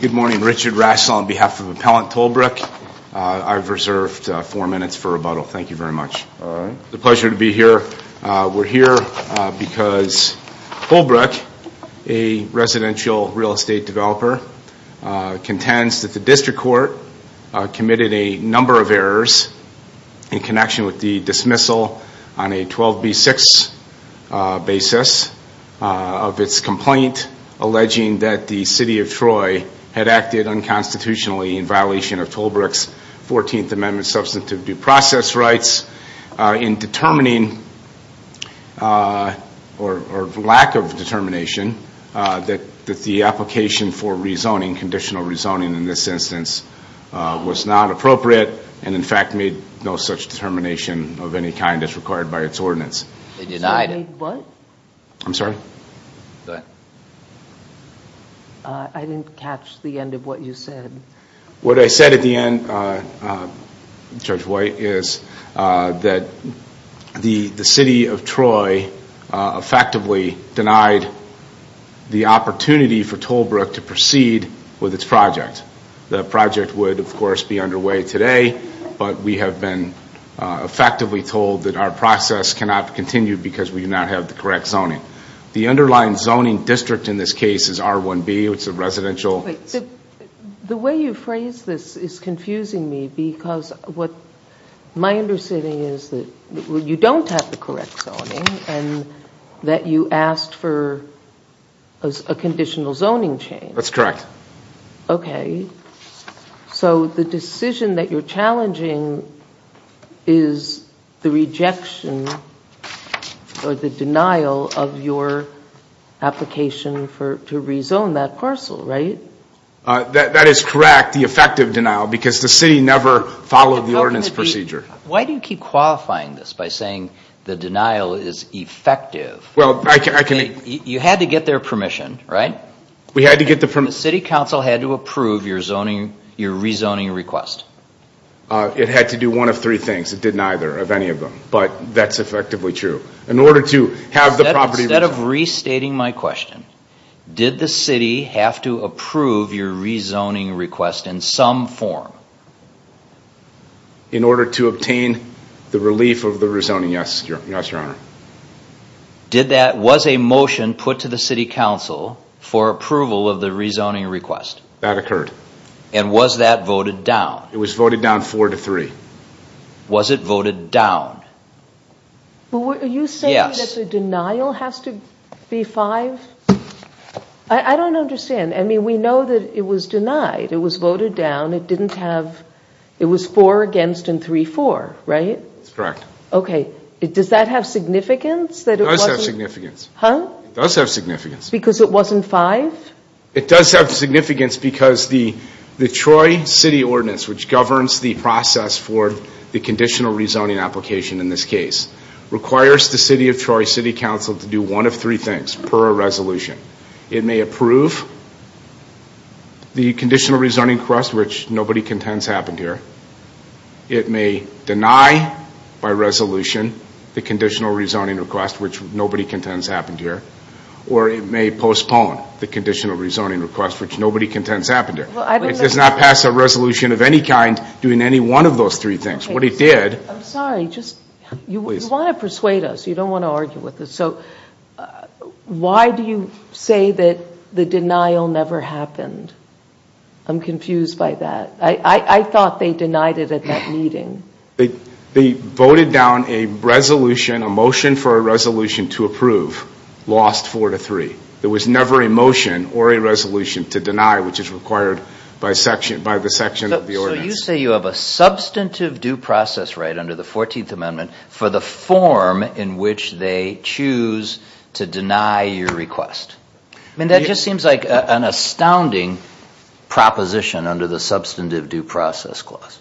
Good morning, Richard Rassel on behalf of Appellant Tollbrook. I've reserved four minutes for rebuttal. Thank you very much. It's a pleasure to be here. We're here because Tollbrook, a residential real estate developer, contends that the District Court committed a number of errors in connection with the dismissal on a 12B6 basis of its complaint alleging that the City of Troy had acted unconstitutionally in violation of Tollbrook's 14th Amendment substantive due process rights in determining, or lack of determination, that the application for rezoning, conditional rezoning in this instance, was not appropriate and in fact made no such determination of any kind as required by its ordinance. They denied it. What? I'm sorry? Go ahead. I didn't catch the end of what you said. What I said at the end, Judge White, is that the City of Troy effectively denied the opportunity for Tollbrook to proceed with its project. The project would, of course, be underway today but we have been effectively told that our process cannot continue because we do not have the correct zoning. The underlying zoning district in this case is R1B, which is a residential... Wait. The way you phrase this is confusing me because what my understanding is that you don't have the correct zoning and that you asked for a conditional zoning change. That's correct. Okay. So the decision that you're challenging is the rejection or the denial of your application for to rezone that parcel, right? That is correct, the effective denial, because the City never followed the ordinance procedure. Why do you keep qualifying this by saying the denial is effective? You had to get their permission, right? We had to get the permission. The City Council had to approve your rezoning request. It had to do one of three things. It did neither of any of them but that's effectively true. In order to have the property... Did the City have to approve your rezoning request in some form? In order to obtain the relief of the rezoning, yes, Your Honor. Did that... Was a motion put to the City Council for approval of the rezoning request? That occurred. And was that voted down? It was voted down four to three. Was it voted down? Yes. Are you saying that the denial has to be five? I don't understand. I mean, we know that it was denied. It was voted down. It didn't have... It was four against and three for, right? That's correct. Okay. Does that have significance? It does have significance. Huh? It does have significance. Because it wasn't five? It does have significance because the Troy City Ordinance, which governs the process for the conditional rezoning application in this case, requires the City of Troy City Council to do one of three things per a resolution. It may approve the conditional rezoning request, which nobody contends happened here. It may deny, by resolution, the conditional rezoning request, which nobody contends happened here. Or it may postpone the conditional rezoning request, which nobody contends happened here. It does not pass a resolution of any kind doing any one of those three things. What it did... I'm sorry. Just... Please. You want to persuade us. You don't want to argue with us. So, why do you say that the denial never happened? I'm confused by that. I thought they denied it at that meeting. They voted down a resolution, a motion for a resolution to approve, lost four to three. There was never a motion or a resolution to deny, which is required by the section of the ordinance. So, you say you have a substantive due process right under the 14th Amendment for the form in which they choose to deny your request. That just seems like an astounding proposition under the substantive due process clause.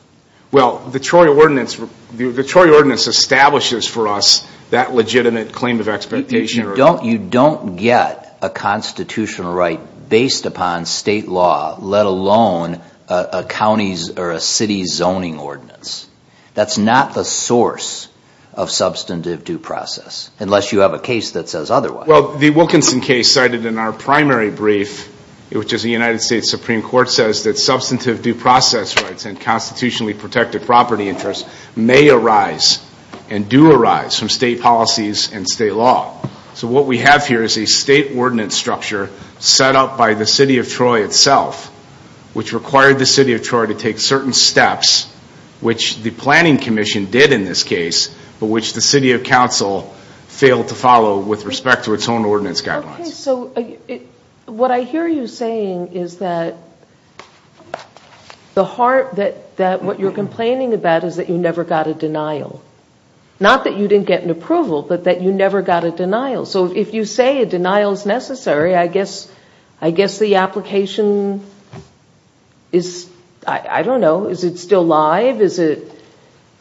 Well, the Troy Ordinance establishes for us that legitimate claim of expectation. You don't get a constitutional right based upon state law, let alone a county or a city zoning ordinance. That's not the source of substantive due process, unless you have a case that says otherwise. Well, the Wilkinson case cited in our primary brief, which is the United States Supreme Court, says that substantive due process rights and constitutionally protected property interests may arise and do arise from state policies and state law. So what we have here is a state ordinance structure set up by the City of Troy itself, which required the City of Troy to take certain steps, which the Planning Commission did in this case, but which the City of Council failed to follow with respect to its own ordinance guidelines. Okay, so what I hear you saying is that the heart, that what you're complaining about is that you never got a denial. Not that you didn't get an approval, but that you never got a denial. So if you say a denial is necessary, I guess the application is, I don't know, is it still live? Is it,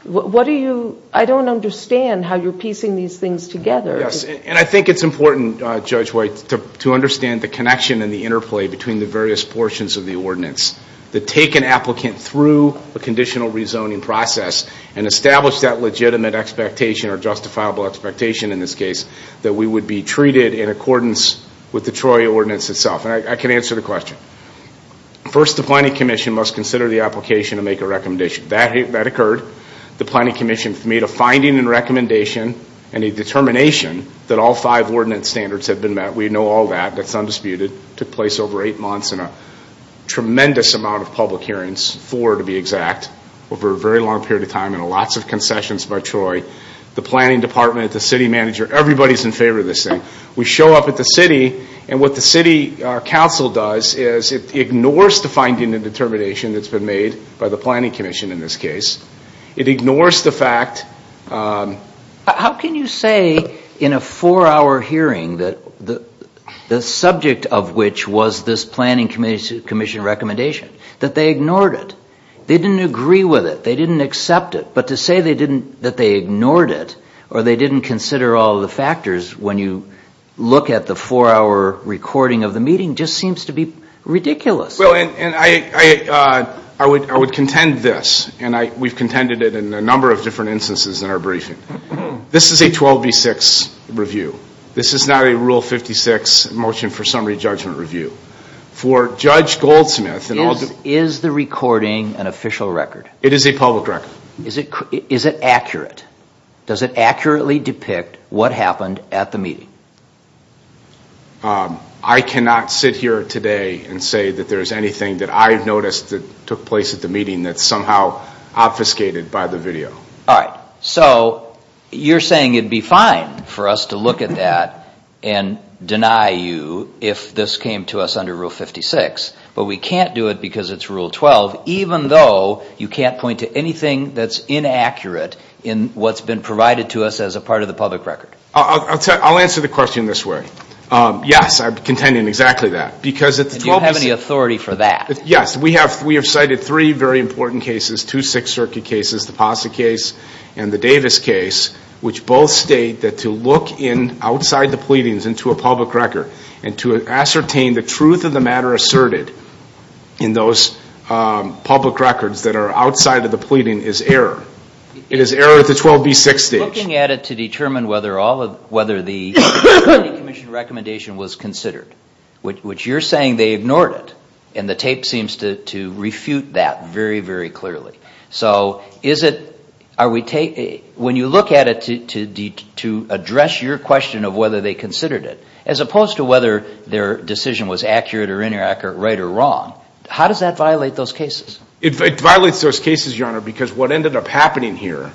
what do you, I don't understand how you're piecing these things together. Yes, and I think it's important, Judge White, to understand the connection and the interplay between the various portions of the ordinance that take an applicant through a conditional rezoning process and establish that legitimate expectation or justifiable expectation in this case that we would be treated in accordance with the Troy ordinance itself. And I can answer the question. First the Planning Commission must consider the application and make a recommendation. That occurred. The Planning Commission made a finding and recommendation and a determination that all five ordinance standards had been met. We know all that. That's undisputed. It took place over eight months and a tremendous amount of public hearings, four to be exact, over a very long period of time and lots of concessions by Troy. The Planning Department, the City Manager, everybody's in favor of this thing. We show up at the City and what the City Council does is it ignores the finding and determination that's been made by the Planning Commission in this case. It ignores the fact... Which was this Planning Commission recommendation. That they ignored it. They didn't agree with it. They didn't accept it. But to say that they ignored it or they didn't consider all the factors when you look at the four hour recording of the meeting just seems to be ridiculous. And I would contend this and we've contended it in a number of different instances in our briefing. This is a 12B6 review. This is not a Rule 56 motion for summary judgment review. For Judge Goldsmith... Is the recording an official record? It is a public record. Is it accurate? Does it accurately depict what happened at the meeting? I cannot sit here today and say that there's anything that I've noticed that took place at the meeting that's somehow obfuscated by the video. Alright. So, you're saying it'd be fine for us to look at that and deny you if this came to us under Rule 56, but we can't do it because it's Rule 12 even though you can't point to anything that's inaccurate in what's been provided to us as a part of the public record. I'll answer the question this way. Yes, I'm contending exactly that. Because at the 12B6... Do you have any authority for that? Yes. We have cited three very important cases, two Sixth Circuit cases, the Posse case and the Davis case, which both state that to look in outside the pleadings into a public record and to ascertain the truth of the matter asserted in those public records that are outside of the pleading is error. It is error at the 12B6 stage. Looking at it to determine whether the committee commission recommendation was considered, which you're saying they ignored it, and the tape seems to refute that very, very clearly. So is it... When you look at it to address your question of whether they considered it, as opposed to whether their decision was accurate or inaccurate, right or wrong, how does that violate those cases? It violates those cases, Your Honor, because what ended up happening here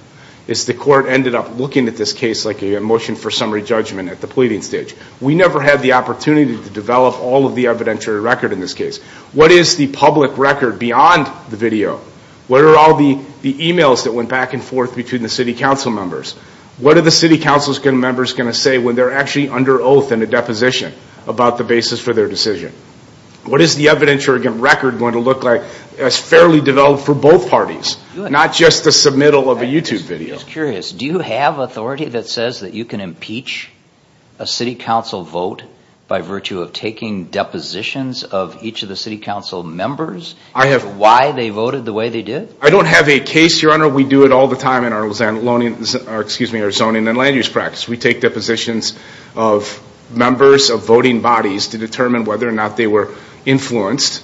is the court ended up looking at this case like a motion for summary judgment at the pleading stage. We never had the opportunity to develop all of the evidentiary record in this case. What is the public record beyond the video? What are all the emails that went back and forth between the city council members? What are the city council members going to say when they're actually under oath in a deposition about the basis for their decision? What is the evidentiary record going to look like as fairly developed for both parties? Not just the submittal of a YouTube video. I was curious, do you have authority that says that you can impeach a city council vote by virtue of taking depositions of each of the city council members of why they voted the way they did? I don't have a case, Your Honor. We do it all the time in our zoning and land use practice. We take depositions of members of voting bodies to determine whether or not they were influenced,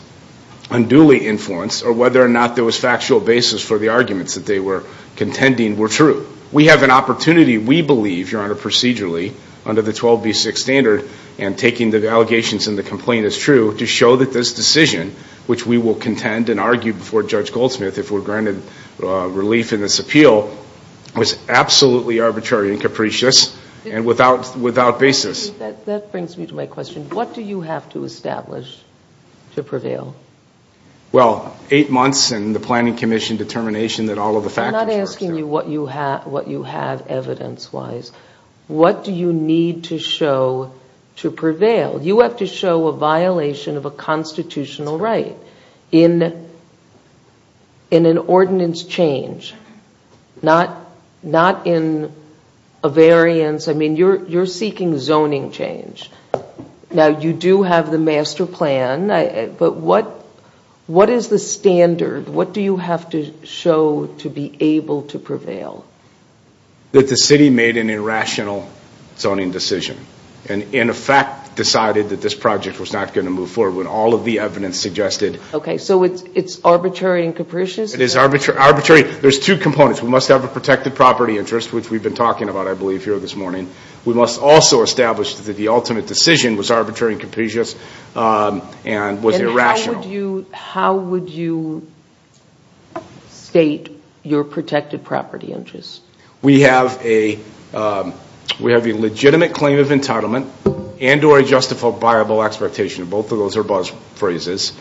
unduly influenced, or whether or not there was factual basis for the arguments that they were contending were true. We have an opportunity, we believe, Your Honor, procedurally under the 12B6 standard and taking the allegations and the complaint as true to show that this decision, which we will contend and argue before Judge Goldsmith if we're granted relief in this appeal, was absolutely arbitrary and capricious and without basis. That brings me to my question. What do you have to establish to prevail? Well, eight months and the Planning Commission determination that all of the factors are I'm not asking you what you have evidence-wise. What do you need to show to prevail? You have to show a violation of a constitutional right in an ordinance change, not in a variance. I mean, you're seeking zoning change. Now, you do have the master plan, but what is the standard? What do you have to show to be able to prevail? That the city made an irrational zoning decision and in effect decided that this project was not going to move forward when all of the evidence suggested Okay, so it's arbitrary and capricious? It is arbitrary. There's two components. We must have a protected property interest, which we've been talking about, I believe, here this morning. We must also establish that the ultimate decision was arbitrary and capricious and was irrational. How would you state your protected property interest? We have a legitimate claim of entitlement and or a justifiable expectation. Both of those are buzzphrases,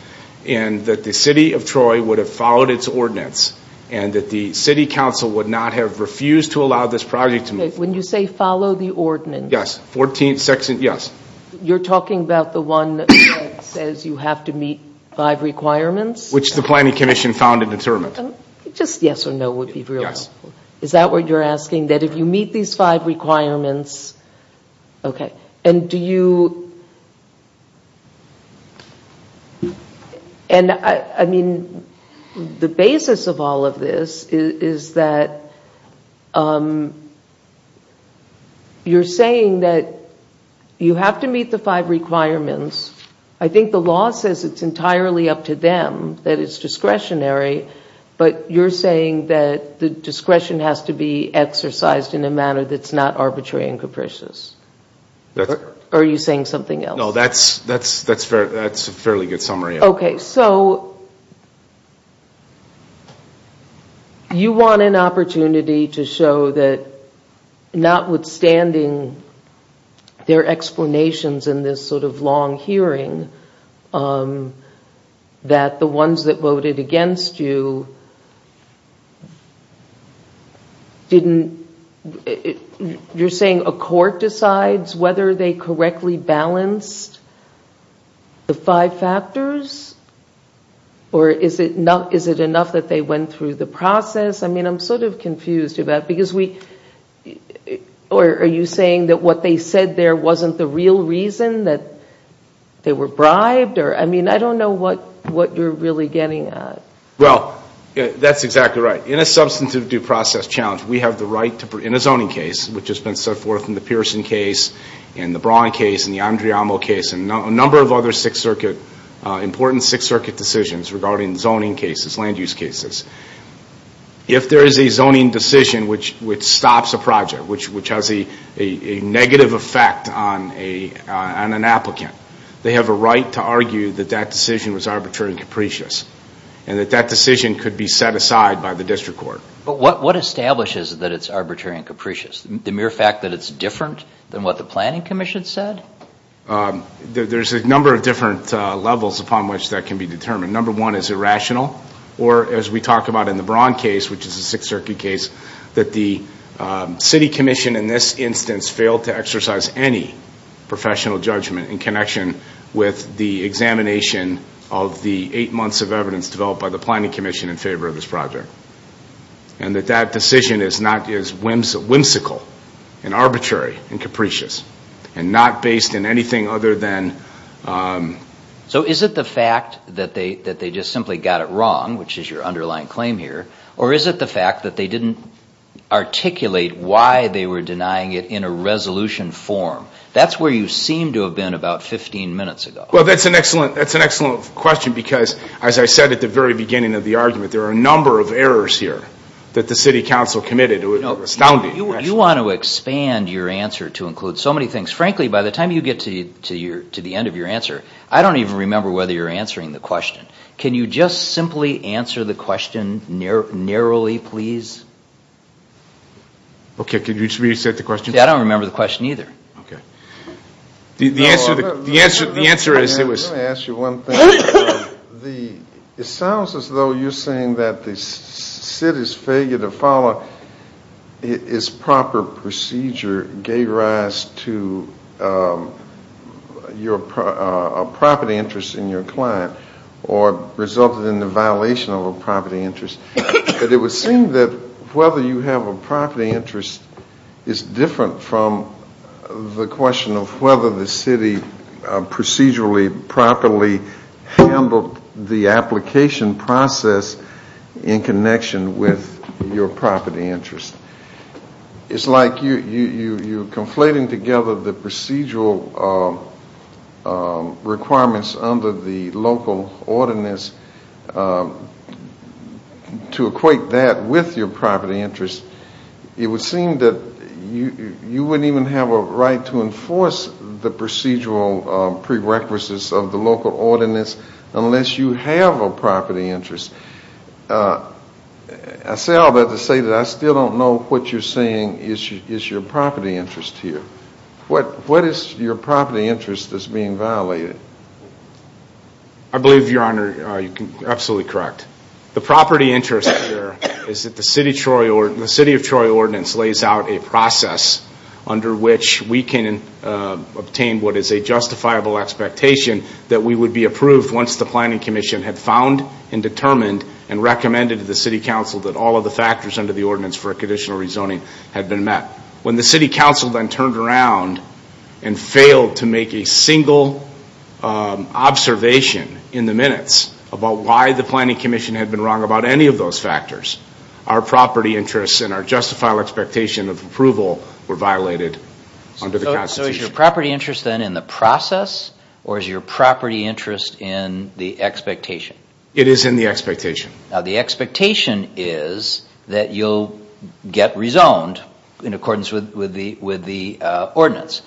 and that the city of Troy would have followed its ordinance and that the city council would not have refused to allow this project to move forward. Okay, when you say follow the ordinance, you're talking about the one that says you have to meet five requirements? Which the planning commission found and determined. Just yes or no would be reasonable. Is that what you're asking? That if you meet these five requirements, okay, and do you, and I mean, the basis of all of this is that you're saying that you have to meet the five requirements. I think the law says it's entirely up to them, that it's discretionary. But you're saying that the discretion has to be exercised in a manner that's not arbitrary and capricious. Are you saying something else? No, that's a fairly good summary. Okay, so you want an opportunity to show that notwithstanding their explanations in this sort of long hearing, that the ones that voted against you didn't, you're saying a court decides whether they correctly balanced the five factors, or is it enough that they went through the process? I mean, I'm sort of confused about, because we, or are you saying that what they said there wasn't the real reason that they were bribed, or I mean, I don't know what you're really getting at. Well, that's exactly right. In a substantive due process challenge, we have the right to, in a zoning case, which in the Braun case, in the Andriamo case, and a number of other Sixth Circuit, important Sixth Circuit decisions regarding zoning cases, land use cases, if there is a zoning decision which stops a project, which has a negative effect on an applicant, they have a right to argue that that decision was arbitrary and capricious, and that that decision could be set aside by the district court. But what establishes that it's arbitrary and capricious? The mere fact that it's different than what the planning commission said? There's a number of different levels upon which that can be determined. Number one is irrational, or as we talk about in the Braun case, which is a Sixth Circuit case, that the city commission in this instance failed to exercise any professional judgment in connection with the examination of the eight months of evidence developed by the planning commission in favor of this project. And that that decision is whimsical, and arbitrary, and capricious, and not based on anything other than... So is it the fact that they just simply got it wrong, which is your underlying claim here, or is it the fact that they didn't articulate why they were denying it in a resolution form? That's where you seem to have been about 15 minutes ago. Well, that's an excellent question because, as I said at the very beginning of the argument, there are a number of errors here that the city council committed. It was astounding. You want to expand your answer to include so many things. Frankly, by the time you get to the end of your answer, I don't even remember whether you're answering the question. Can you just simply answer the question narrowly, please? Okay, can you just reset the question? Yeah, I don't remember the question either. Okay. The answer is... I just want to ask you one thing. It sounds as though you're saying that the city's failure to follow its proper procedure gave rise to a property interest in your client, or resulted in the violation of a property interest. But it would seem that whether you have a property interest is different from the question of whether the city procedurally, properly handled the application process in connection with your property interest. It's like you're conflating together the procedural requirements under the local ordinance to equate that with your property interest. It would seem that you wouldn't even have a right to enforce the procedural prerequisites of the local ordinance unless you have a property interest. I say all that to say that I still don't know what you're saying is your property interest here. What is your property interest that's being violated? I believe, Your Honor, you're absolutely correct. The property interest here is that the City of Troy Ordinance lays out a process under which we can obtain what is a justifiable expectation that we would be approved once the Planning Commission had found and determined and recommended to the City Council that all of the factors under the Ordinance for Conditional Rezoning had been met. When the City Council then turned around and failed to make a single observation in the Planning Commission had been wrong about any of those factors, our property interests and our justifiable expectation of approval were violated under the Constitution. So is your property interest then in the process or is your property interest in the expectation? It is in the expectation. Now the expectation is that you'll get rezoned in accordance with the ordinance.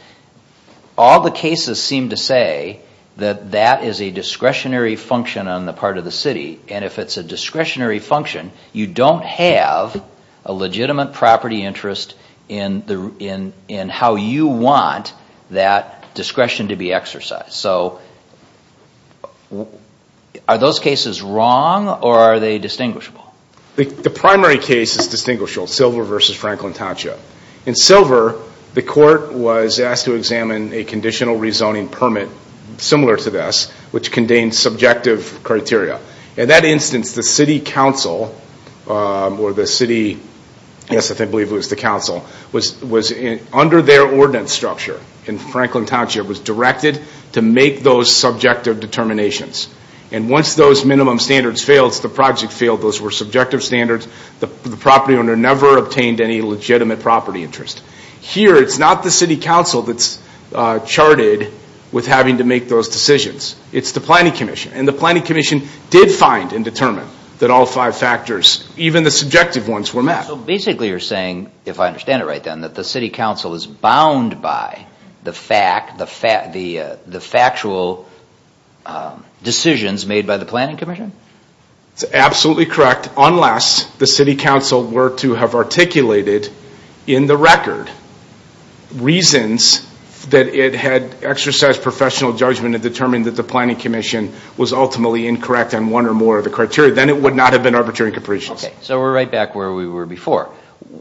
All the cases seem to say that that is a discretionary function on the part of the City. And if it's a discretionary function, you don't have a legitimate property interest in how you want that discretion to be exercised. So are those cases wrong or are they distinguishable? The primary case is distinguishable, Silver v. Franklin Tatcha. In Silver, the Court was asked to examine a conditional rezoning permit similar to this which contains subjective criteria. In that instance, the City Council or the City Council was under their ordinance structure in Franklin Tatcha was directed to make those subjective determinations. And once those minimum standards failed, the project failed, those were subjective standards, the property owner never obtained any legitimate property interest. Here, it's not the City Council that's charted with having to make those decisions. It's the Planning Commission. And the Planning Commission did find and determine that all five factors, even the subjective ones, were met. So basically you're saying, if I understand it right then, that the City Council is bound by the factual decisions made by the Planning Commission? It's absolutely correct, unless the City Council were to have articulated in the record reasons that it had exercised professional judgment and determined that the Planning Commission was ultimately incorrect on one or more of the criteria, then it would not have been arbitrary capricious. Okay, so we're right back where we were before.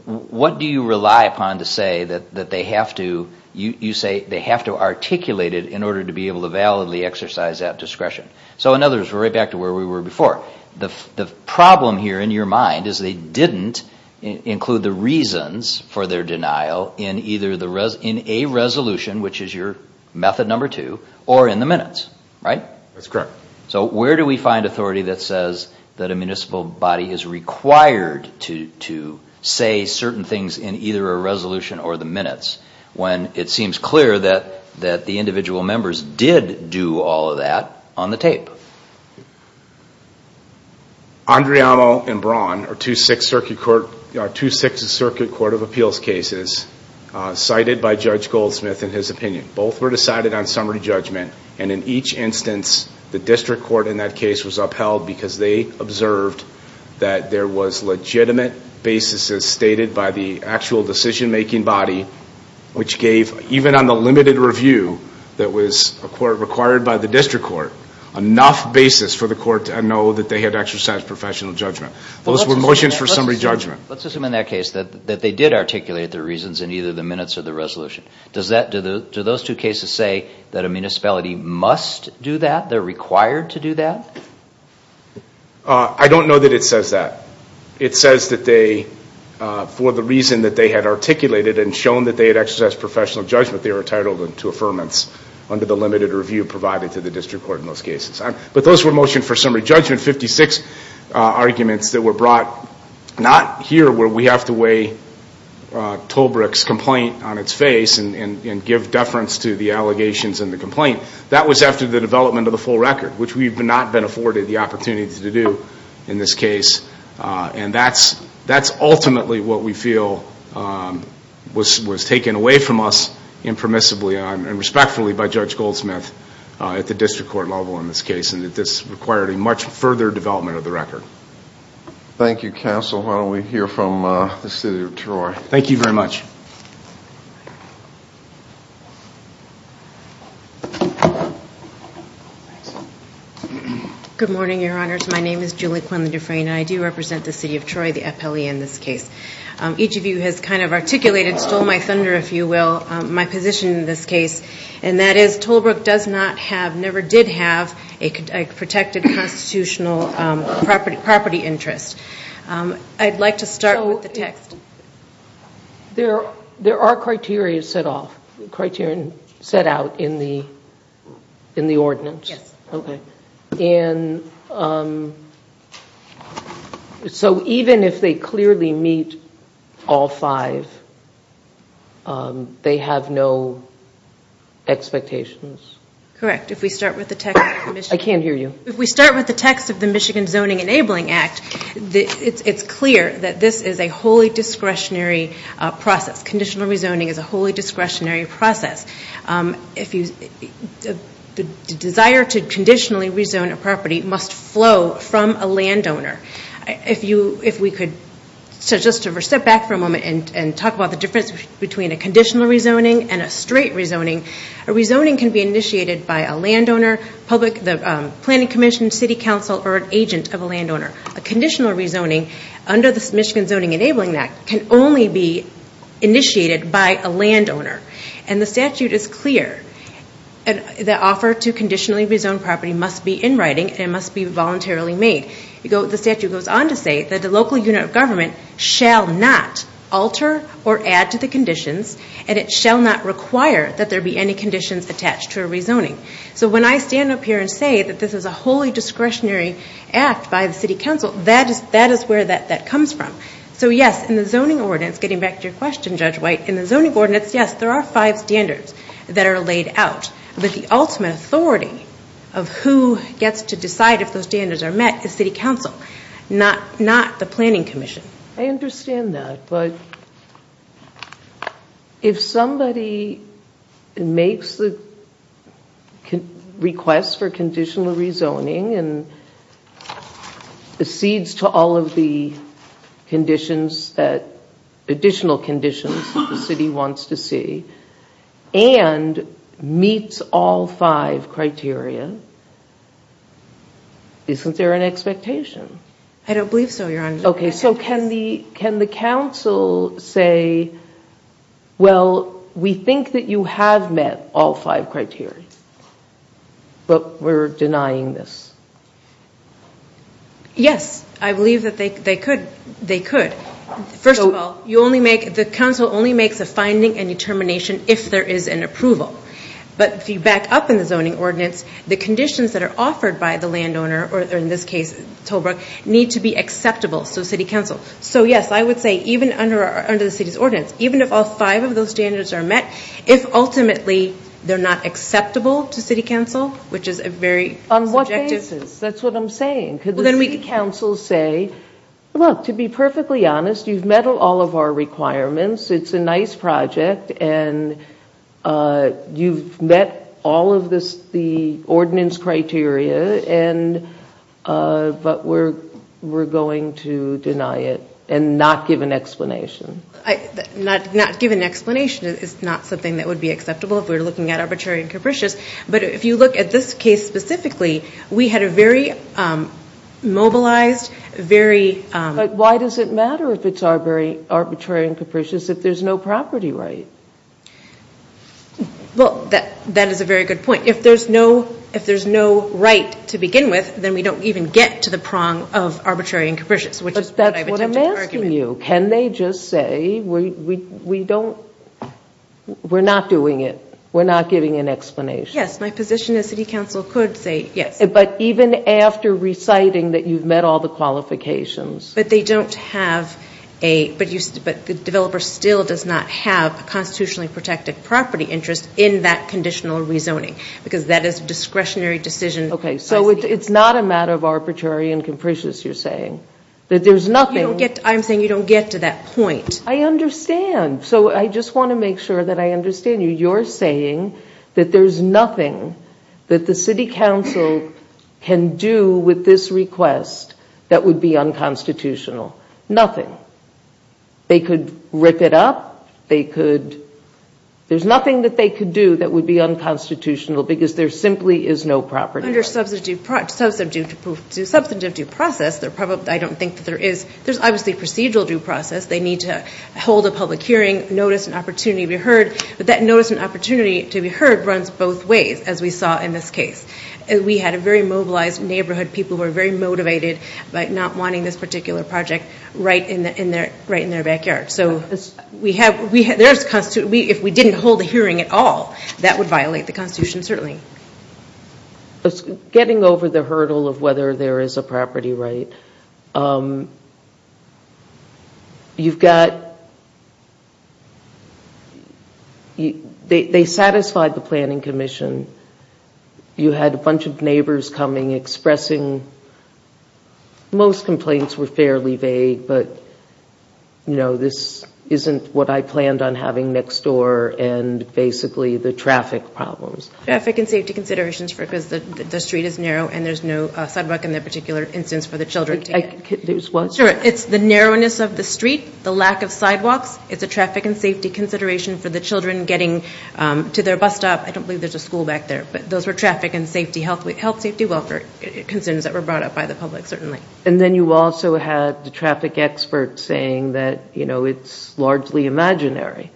What do you rely upon to say that they have to, you say they have to articulate it in order to be able to validly exercise that discretion? So in other words, we're right back to where we were before. The problem here in your mind is they didn't include the reasons for their denial in a resolution, which is your method number two, or in the minutes, right? That's correct. So where do we find authority that says that a municipal body is required to say certain things in either a resolution or the minutes when it seems clear that the individual members did do all of that on the tape? Andreamo and Braun are two Sixth Circuit Court of Appeals cases cited by Judge Goldsmith in his opinion. Both were decided on summary judgment, and in each instance, the district court in that case was upheld because they observed that there was legitimate basis as stated by the actual decision-making body, which gave, even on the limited review that was required by the district court, enough basis for the court to know that they had exercised professional judgment. Those were motions for summary judgment. Let's assume in that case that they did articulate their reasons in either the minutes or the resolution. Does that, do those two cases say that a municipality must do that? They're required to do that? I don't know that it says that. It says that they, for the reason that they had articulated and shown that they had exercised professional judgment, they were entitled to affirmance under the limited review provided to the district court in those cases. But those were motion for summary judgment, 56 arguments that were brought not here where we have to weigh Tolbrick's complaint on its face and give deference to the allegations in the complaint. That was after the development of the full record, which we've not been afforded the opportunity to do in this case. And that's ultimately what we feel was taken away from us impermissibly and respectfully by Judge Goldsmith at the district court level in this case and that this required a much further development of the record. Thank you, counsel. Why don't we hear from the city of Troy. Thank you very much. Good morning, your honors. My name is Julie Quinlan-Dufresne and I do represent the city of Troy, the appellee in this case. Each of you has kind of articulated, stole my thunder if you will, my position in this case and that is Tolbrick does not have, never did have a protected constitutional property interest. I'd like to start with the text. There are criteria set off, criteria set out in the ordinance. Yes. Okay. And so even if they clearly meet all five, they have no expectations. Correct. If we start with the text of the Michigan Zoning Enabling Act, it's clear that this is a wholly discretionary process. Conditional rezoning is a wholly discretionary process. If you, the desire to conditionally rezone a property must flow from a landowner. If you, if we could, so just to step back for a moment and talk about the difference between a conditional rezoning and a straight rezoning. A rezoning can be initiated by a landowner, public, the planning commission, city council or an agent of a landowner. A conditional rezoning under the Michigan Zoning Enabling Act can only be initiated by a landowner. And the statute is clear. The offer to conditionally rezone property must be in writing and must be voluntarily made. The statute goes on to say that the local unit of government shall not alter or add to the conditions and it shall not require that there be any conditions attached to a rezoning. So when I stand up here and say that this is a wholly discretionary act by the city council, that is where that comes from. So yes, in the zoning ordinance, getting back to your question, Judge White, in the zoning ordinance, yes, there are five standards that are laid out. But the ultimate authority of who gets to decide if those standards are met is city council, not the planning commission. I understand that, but if somebody makes the request for conditional rezoning and accedes to all of the additional conditions that the city wants to see and meets all five criteria, isn't there an expectation? I don't believe so, Your Honor. Okay, so can the council say, well, we think that you have met all five criteria, but we're denying this? Yes, I believe that they could. First of all, the council only makes a finding and determination if there is an approval. But if you back up in the zoning ordinance, the conditions that are offered by the landowner, or in this case, Tolbrook, need to be acceptable to city council. So yes, I would say even under the city's ordinance, even if all five of those standards are met, if ultimately they're not acceptable to city council, which is a very subjective... On what basis? That's what I'm saying. Could the city council say, look, to be perfectly honest, you've met all of our requirements, it's a nice project, and you've met all of the ordinance criteria, but we're going to deny it and not give an explanation? Not give an explanation is not something that would be acceptable if we were looking at arbitrary and capricious. But if you look at this case specifically, we had a very mobilized, very... But why does it matter if it's arbitrary and capricious if there's no property right? Well, that is a very good point. If there's no right to begin with, then we don't even get to the prong of arbitrary and capricious, which is what I would argue. But that's what I'm asking you. Can they just say, we're not doing it, we're not giving an explanation? Yes, my position is city council could say yes. But even after reciting that you've met all the qualifications? But the developer still does not have a constitutionally protected property interest in that conditional rezoning, because that is a discretionary decision. Okay, so it's not a matter of arbitrary and capricious, you're saying? That there's nothing... I'm saying you don't get to that point. I understand. So I just want to make sure that I understand you. You're saying that there's nothing that the city council can do with this request that would be unconstitutional, nothing. They could rip it up, they could... There's nothing that they could do that would be unconstitutional because there simply is no property right. Under substantive due process, I don't think that there is. There's obviously procedural due process. They need to hold a public hearing, notice an opportunity to be heard. But that notice and opportunity to be heard runs both ways, as we saw in this case. We had a very mobilized neighborhood. People were very motivated by not wanting this particular project right in their backyard. So if we didn't hold a hearing at all, that would violate the constitution certainly. Getting over the hurdle of whether there is a property right, you've got... They satisfied the planning commission. You had a bunch of neighbors coming, expressing... Most complaints were fairly vague, but, you know, this isn't what I planned on having next door, and basically the traffic problems. Traffic and safety considerations because the street is narrow and there's no sidewalk in that particular instance for the children. It's the narrowness of the street, the lack of sidewalks. It's a traffic and safety consideration for the children getting to their bus stop. I don't believe there's a school back there. But those were traffic and health safety welfare concerns that were brought up by the public certainly. And then you also had the traffic experts saying that, you know, it's largely imaginary.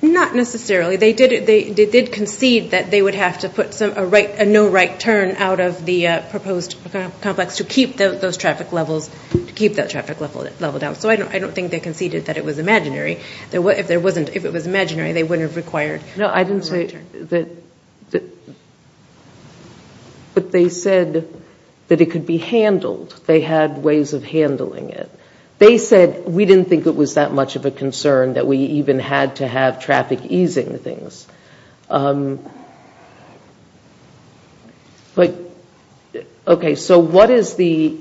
Not necessarily. They did concede that they would have to put a no right turn out of the proposed complex to keep those traffic levels down. So I don't think they conceded that it was imaginary. If it was imaginary, they wouldn't have required a right turn. No, I didn't say that. But they said that it could be handled. They had ways of handling it. They said we didn't think it was that much of a concern that we even had to have traffic easing things. But, okay, so what is the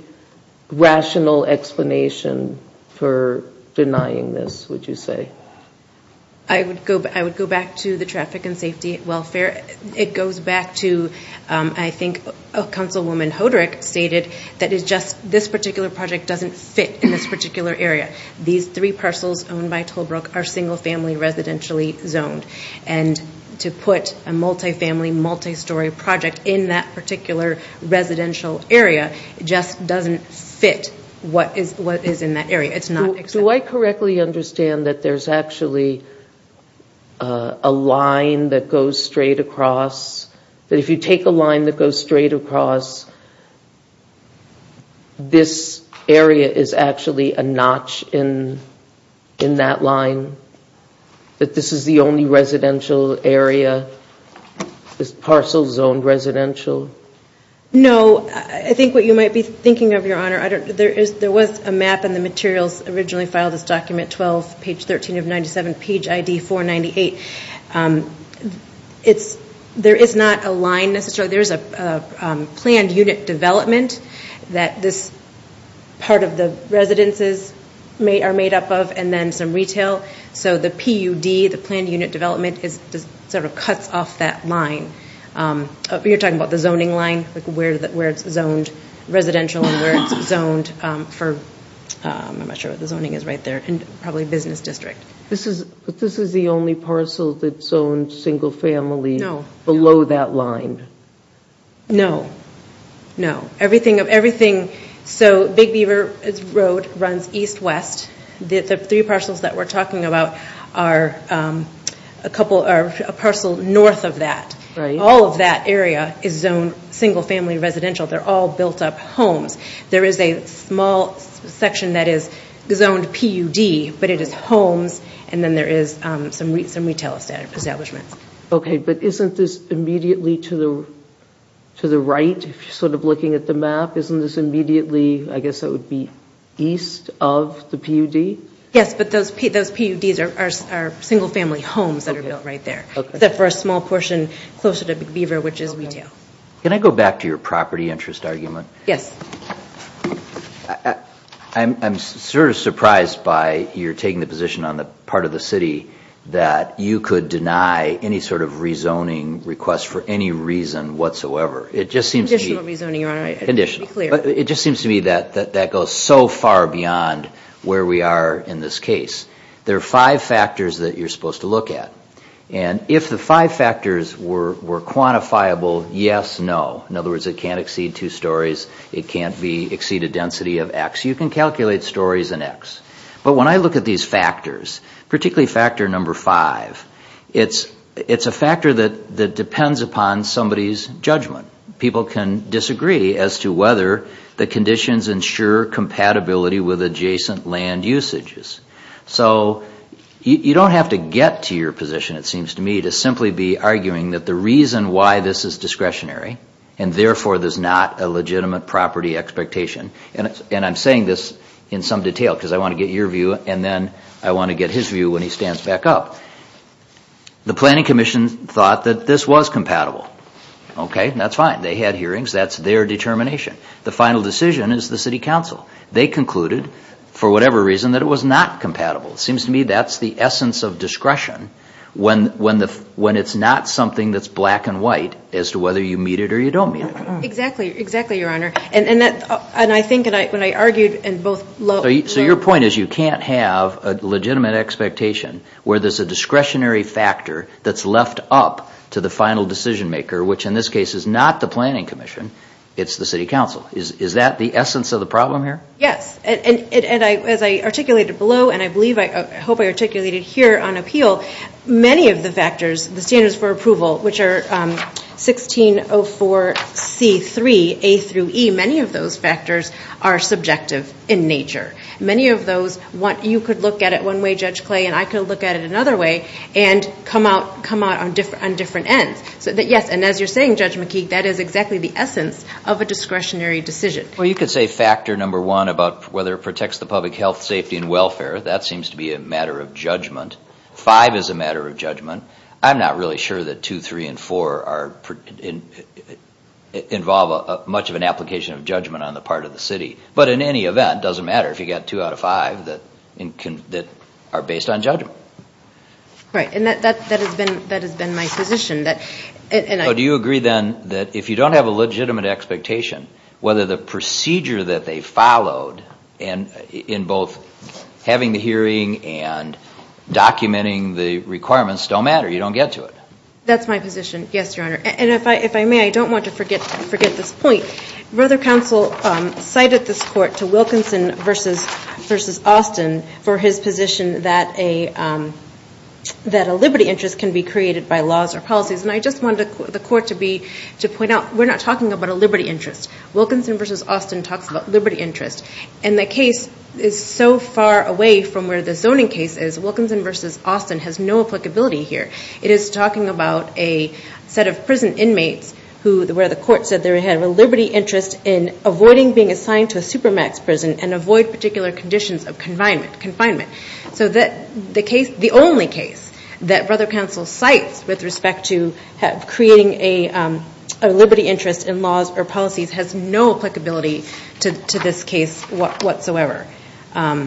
rational explanation for denying this, would you say? I would go back to the traffic and safety welfare. It goes back to I think Councilwoman Hodrick stated that it's just this particular project doesn't fit in this particular area. These three parcels owned by Tolbrook are single family residentially zoned. And to put a multi-family, multi-story project in that particular residential area just doesn't fit what is in that area. Do I correctly understand that there's actually a line that goes straight across, that if you take a line that goes straight across, this area is actually a notch in that line, that this is the only residential area, this parcel zone residential? No. I think what you might be thinking of, Your Honor, there was a map in the materials originally filed as document 12, page 13 of 97, page ID 498. There is not a line necessarily. There is a planned unit development that this part of the residences are made up of and then some retail. So the PUD, the planned unit development, sort of cuts off that line. You're talking about the zoning line, where it's zoned residential and where it's zoned for, I'm not sure what the zoning is right there, probably business district. But this is the only parcel that's zoned single-family below that line? No. No. So Big Beaver Road runs east-west. The three parcels that we're talking about are a parcel north of that. All of that area is zoned single-family residential. They're all built-up homes. There is a small section that is zoned PUD, but it is homes, and then there is some retail establishments. Okay, but isn't this immediately to the right, sort of looking at the map? Isn't this immediately, I guess it would be east of the PUD? Yes, but those PUDs are single-family homes that are built right there, except for a small portion closer to Big Beaver, which is retail. Can I go back to your property interest argument? Yes. I'm sort of surprised by your taking the position on the part of the city that you could deny any sort of rezoning request for any reason whatsoever. Conditional rezoning, Your Honor. It just seems to me that that goes so far beyond where we are in this case. There are five factors that you're supposed to look at, and if the five factors were quantifiable, yes, no. In other words, it can't exceed two stories. It can't exceed a density of X. You can calculate stories in X. But when I look at these factors, particularly factor number five, it's a factor that depends upon somebody's judgment. People can disagree as to whether the conditions ensure compatibility with adjacent land usages. So you don't have to get to your position, it seems to me, to simply be arguing that the reason why this is discretionary, and therefore there's not a legitimate property expectation, and I'm saying this in some detail because I want to get your view, and then I want to get his view when he stands back up. The Planning Commission thought that this was compatible. That's fine. They had hearings. That's their determination. The final decision is the City Council. They concluded, for whatever reason, that it was not compatible. It seems to me that's the essence of discretion when it's not something that's black and white as to whether you meet it or you don't meet it. Exactly. Exactly, Your Honor. And I think when I argued in both low- So your point is you can't have a legitimate expectation where there's a discretionary factor that's left up to the final decision maker, which in this case is not the Planning Commission, it's the City Council. Is that the essence of the problem here? Yes. As I articulated below, and I hope I articulated here on appeal, many of the factors, the standards for approval, which are 1604C3A through E, many of those factors are subjective in nature. Many of those, you could look at it one way, Judge Clay, and I could look at it another way and come out on different ends. Yes, and as you're saying, Judge McKeague, that is exactly the essence of a discretionary decision. Well, you could say factor number one about whether it protects the public health, safety, and welfare. That seems to be a matter of judgment. Five is a matter of judgment. I'm not really sure that two, three, and four involve much of an application of judgment on the part of the city. But in any event, it doesn't matter if you've got two out of five that are based on judgment. Right, and that has been my position. Do you agree then that if you don't have a legitimate expectation, whether the procedure that they followed in both having the hearing and documenting the requirements don't matter, you don't get to it? That's my position, yes, Your Honor. And if I may, I don't want to forget this point. Brother Counsel cited this court to Wilkinson v. Austin for his position that a liberty interest can be created by laws or policies. And I just wanted the court to point out we're not talking about a liberty interest. Wilkinson v. Austin talks about liberty interest. And the case is so far away from where the zoning case is. Wilkinson v. Austin has no applicability here. It is talking about a set of prison inmates where the court said they have a liberty interest in avoiding being assigned to a supermax prison and avoid particular conditions of confinement. So the only case that Brother Counsel cites with respect to creating a liberty interest in laws or policies has no applicability to this case whatsoever. My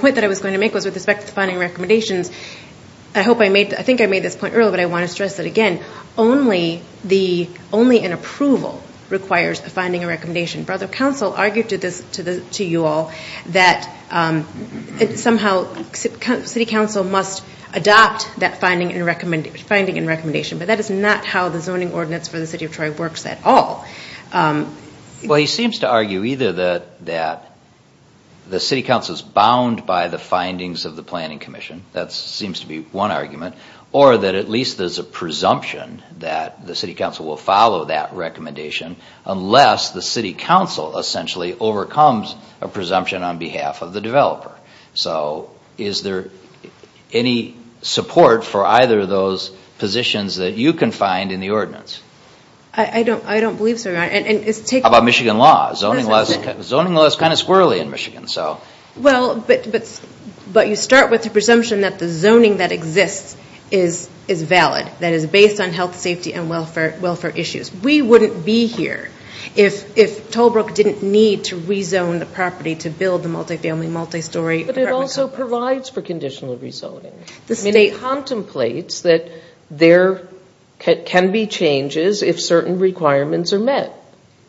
point that I was going to make was with respect to the finding recommendations. I think I made this point earlier, but I want to stress it again. Only an approval requires a finding and recommendation. Brother Counsel argued to you all that somehow City Council must adopt that finding and recommendation. But that is not how the zoning ordinance for the City of Troy works at all. Well, he seems to argue either that the City Council is bound by the findings of the Planning Commission. That seems to be one argument. Or that at least there's a presumption that the City Council will follow that recommendation unless the City Council essentially overcomes a presumption on behalf of the developer. So is there any support for either of those positions that you can find in the ordinance? I don't believe so, Your Honor. How about Michigan law? Zoning law is kind of squirrely in Michigan. Well, but you start with the presumption that the zoning that exists is valid. That is based on health, safety, and welfare issues. We wouldn't be here if Tollbrook didn't need to rezone the property to build the multifamily, multistory apartment complex. But it also provides for conditional rezoning. The State contemplates that there can be changes if certain requirements are met.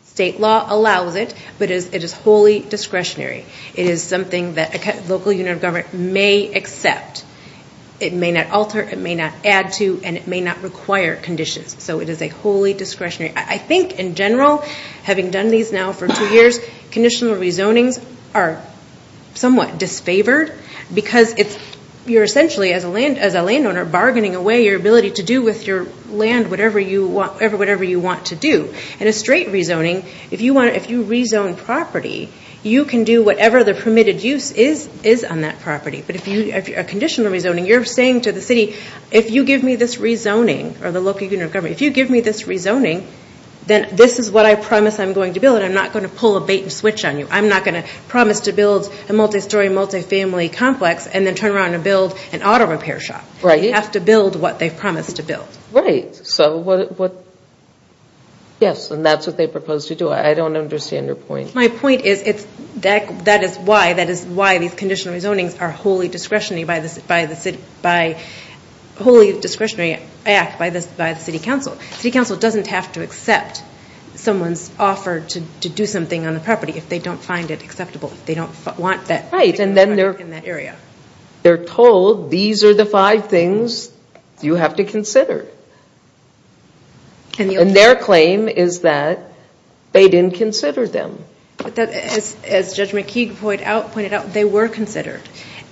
State law allows it, but it is wholly discretionary. It is something that a local unit of government may accept. It may not alter, it may not add to, and it may not require conditions. So it is a wholly discretionary. I think in general, having done these now for two years, conditional rezonings are somewhat disfavored because you're essentially, as a landowner, bargaining away your ability to do with your land whatever you want to do. In a straight rezoning, if you rezone property, you can do whatever the permitted use is on that property. But if you're a conditional rezoning, you're saying to the city, if you give me this rezoning, or the local unit of government, if you give me this rezoning, then this is what I promise I'm going to build, and I'm not going to pull a bait and switch on you. I'm not going to promise to build a multi-story, multi-family complex and then turn around and build an auto repair shop. You have to build what they've promised to build. Right. Yes, and that's what they propose to do. I don't understand your point. My point is that is why these conditional rezonings are wholly discretionary by the city council. City council doesn't have to accept someone's offer to do something on the property if they don't find it acceptable. They don't want that. Right, and then they're told these are the five things you have to consider. And their claim is that they didn't consider them. As Judge McKeague pointed out, they were considered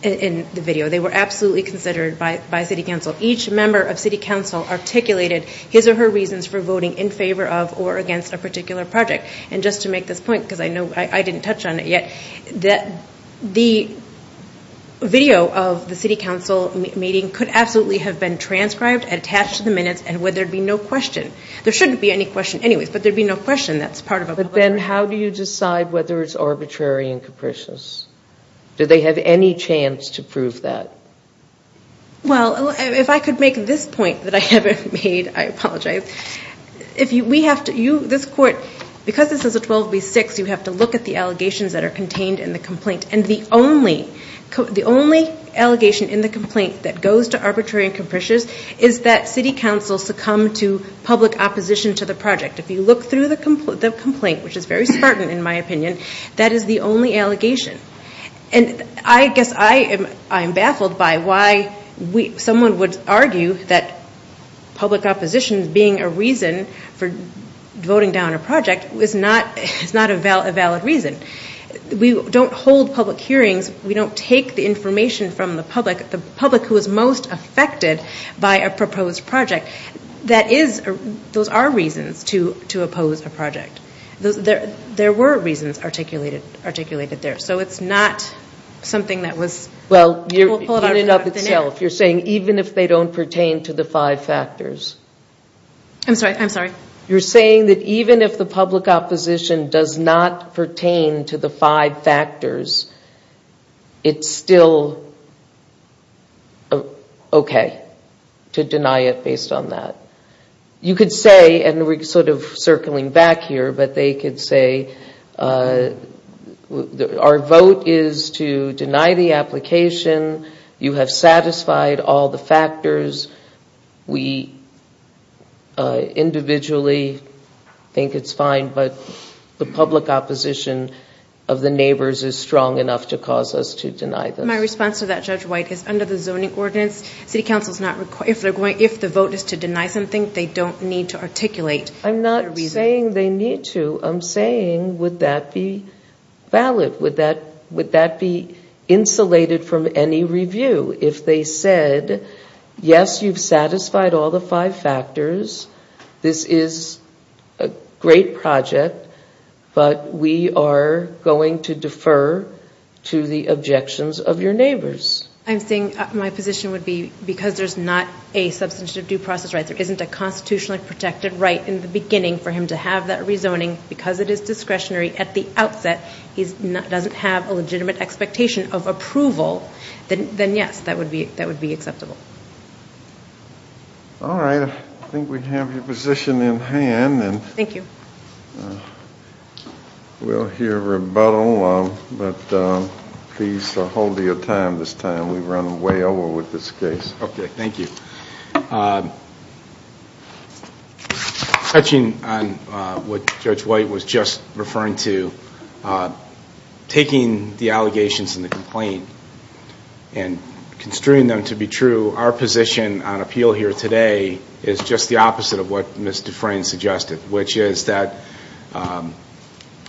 in the video. They were absolutely considered by city council. Each member of city council articulated his or her reasons for voting in favor of or against a particular project. And just to make this point, because I know I didn't touch on it yet, the video of the city council meeting could absolutely have been transcribed, attached to the minutes, and where there'd be no question. There shouldn't be any question anyways, but there'd be no question that's part of a vote. But then how do you decide whether it's arbitrary and capricious? Do they have any chance to prove that? Well, if I could make this point that I haven't made, I apologize. This court, because this is a 12 v. 6, you have to look at the allegations that are contained in the complaint. And the only allegation in the complaint that goes to arbitrary and capricious is that city council succumbed to public opposition to the project. If you look through the complaint, which is very spartan in my opinion, that is the only allegation. And I guess I am baffled by why someone would argue that public opposition being a reason for voting down a project is not a valid reason. We don't hold public hearings. We don't take the information from the public, the public who is most affected by a proposed project. Those are reasons to oppose a project. There were reasons articulated there. So it's not something that was... Well, you're putting it up itself. You're saying even if they don't pertain to the five factors. I'm sorry. I'm sorry. You're saying that even if the public opposition does not pertain to the five factors, it's still okay to deny it based on that. You could say, and we're sort of circling back here, but they could say our vote is to deny the application. You have satisfied all the factors. We individually think it's fine, but the public opposition of the neighbors is strong enough to cause us to deny them. My response to that, Judge White, is under the zoning ordinance, city council is not required... If the vote is to deny something, they don't need to articulate their reason. I'm not saying they need to. I'm saying would that be valid? Would that be insulated from any review if they said, yes, you've satisfied all the five factors, this is a great project, but we are going to defer to the objections of your neighbors? I'm saying my position would be because there's not a substantive due process right, there isn't a constitutionally protected right in the beginning for him to have that rezoning, because it is discretionary at the outset, he doesn't have a legitimate expectation of approval, then yes, that would be acceptable. All right. I think we have your position in hand. Thank you. We'll hear rebuttal, but please hold your time this time. We've run way over with this case. Okay, thank you. Touching on what Judge White was just referring to, taking the allegations in the complaint and construing them to be true, our position on appeal here today is just the opposite of what Ms. Dufresne suggested, which is that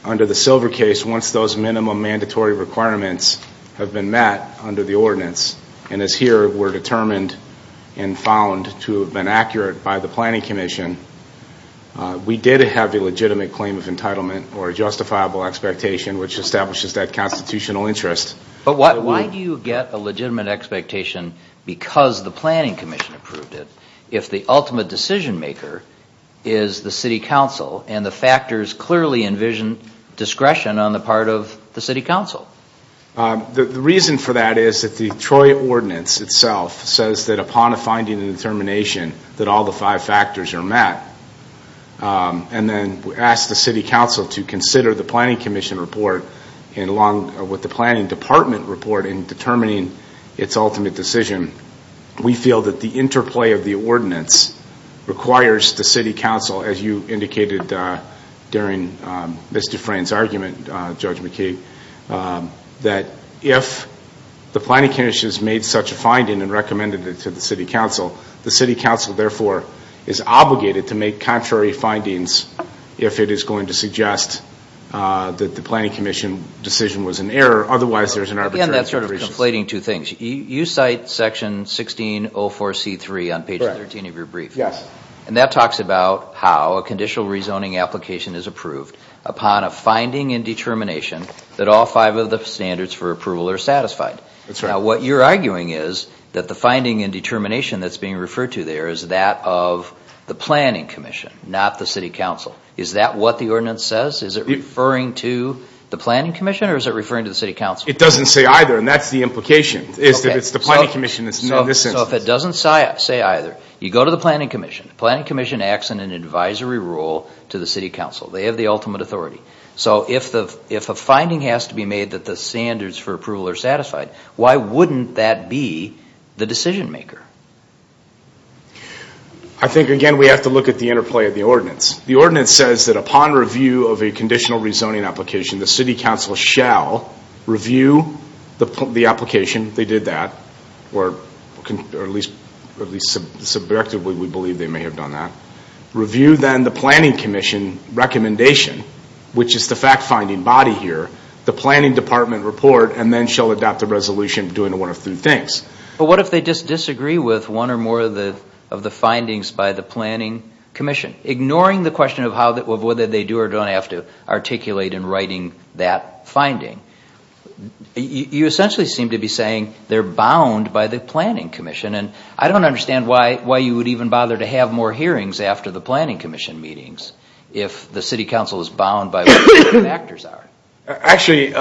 under the Silver case, once those minimum mandatory requirements have been met under the ordinance, and as here were determined and found to have been accurate by the planning commission, we did have a legitimate claim of entitlement or a justifiable expectation, which establishes that constitutional interest. But why do you get a legitimate expectation because the planning commission approved it, if the ultimate decision maker is the city council and the factors clearly envision discretion on the part of the city council? The reason for that is that the Troy ordinance itself says that upon a finding and determination that all the five factors are met. And then we ask the city council to consider the planning commission report and along with the planning department report in determining its ultimate decision. We feel that the interplay of the ordinance requires the city council, as you indicated during Ms. Dufresne's argument, Judge McKee, that if the planning commission has made such a finding and recommended it to the city council, the city council therefore is obligated to make contrary findings if it is going to suggest that the planning commission decision was an error, otherwise there's an arbitrary sort of reason. Again, that's sort of conflating two things. You cite section 1604C3 on page 13 of your brief. Yes. And that talks about how a conditional rezoning application is approved upon a finding and determination that all five of the standards for approval are satisfied. That's right. Now what you're arguing is that the finding and determination that's being referred to there is that of the planning commission, not the city council. Is that what the ordinance says? Is it referring to the planning commission or is it referring to the city council? It doesn't say either, and that's the implication, is that it's the planning commission in this instance. So if it doesn't say either, you go to the planning commission. The planning commission acts in an advisory role to the city council. They have the ultimate authority. So if a finding has to be made that the standards for approval are satisfied, why wouldn't that be the decision maker? I think, again, we have to look at the interplay of the ordinance. The ordinance says that upon review of a conditional rezoning application, the city council shall review the application. They did that, or at least subjectively we believe they may have done that. Review then the planning commission recommendation, which is the fact-finding body here, the planning department report, and then shall adopt a resolution doing one of three things. But what if they just disagree with one or more of the findings by the planning commission, ignoring the question of whether they do or don't have to articulate in writing that finding? You essentially seem to be saying they're bound by the planning commission, and I don't understand why you would even bother to have more hearings after the planning commission meetings if the city council is bound by what the factors are. Actually,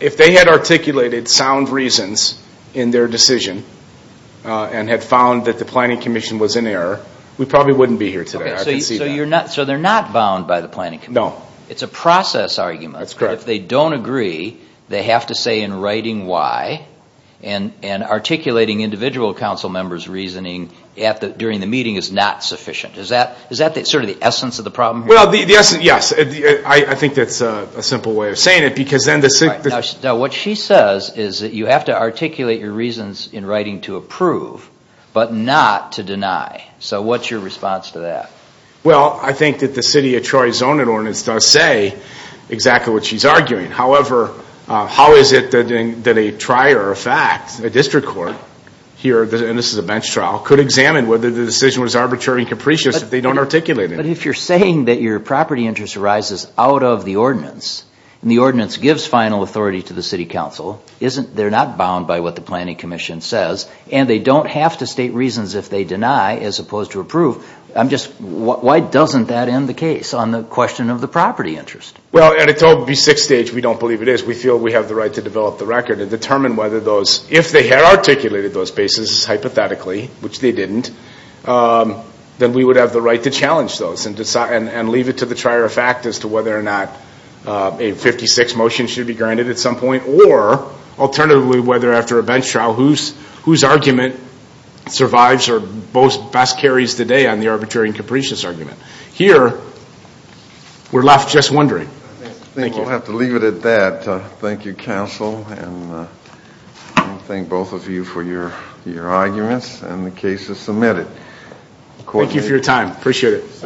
if they had articulated sound reasons in their decision and had found that the planning commission was in error, we probably wouldn't be here today. So they're not bound by the planning commission? No. It's a process argument. That's correct. If they don't agree, they have to say in writing why, and articulating individual council members' reasoning during the meeting is not sufficient. Is that sort of the essence of the problem here? Well, the essence, yes. I think that's a simple way of saying it. Now, what she says is that you have to articulate your reasons in writing to approve, but not to deny. So what's your response to that? Well, I think that the city of Troy's zoning ordinance does say exactly what she's arguing. However, how is it that a trier of fact, a district court here, and this is a bench trial, could examine whether the decision was arbitrary and capricious if they don't articulate it? But if you're saying that your property interest arises out of the ordinance, and the ordinance gives final authority to the city council, they're not bound by what the planning commission says, and they don't have to state reasons if they deny as opposed to approve, I'm just, why doesn't that end the case on the question of the property interest? Well, at a total B6 stage, we don't believe it is. We feel we have the right to develop the record and determine whether those, if they had articulated those basis hypothetically, which they didn't, then we would have the right to challenge those and leave it to the trier of fact as to whether or not a 56 motion should be granted at some point, or alternatively, whether after a bench trial, whose argument survives or best carries the day on the arbitrary and capricious argument. Here, we're left just wondering. I think we'll have to leave it at that. Thank you, counsel, and thank both of you for your arguments, and the case is submitted. Thank you for your time. Appreciate it.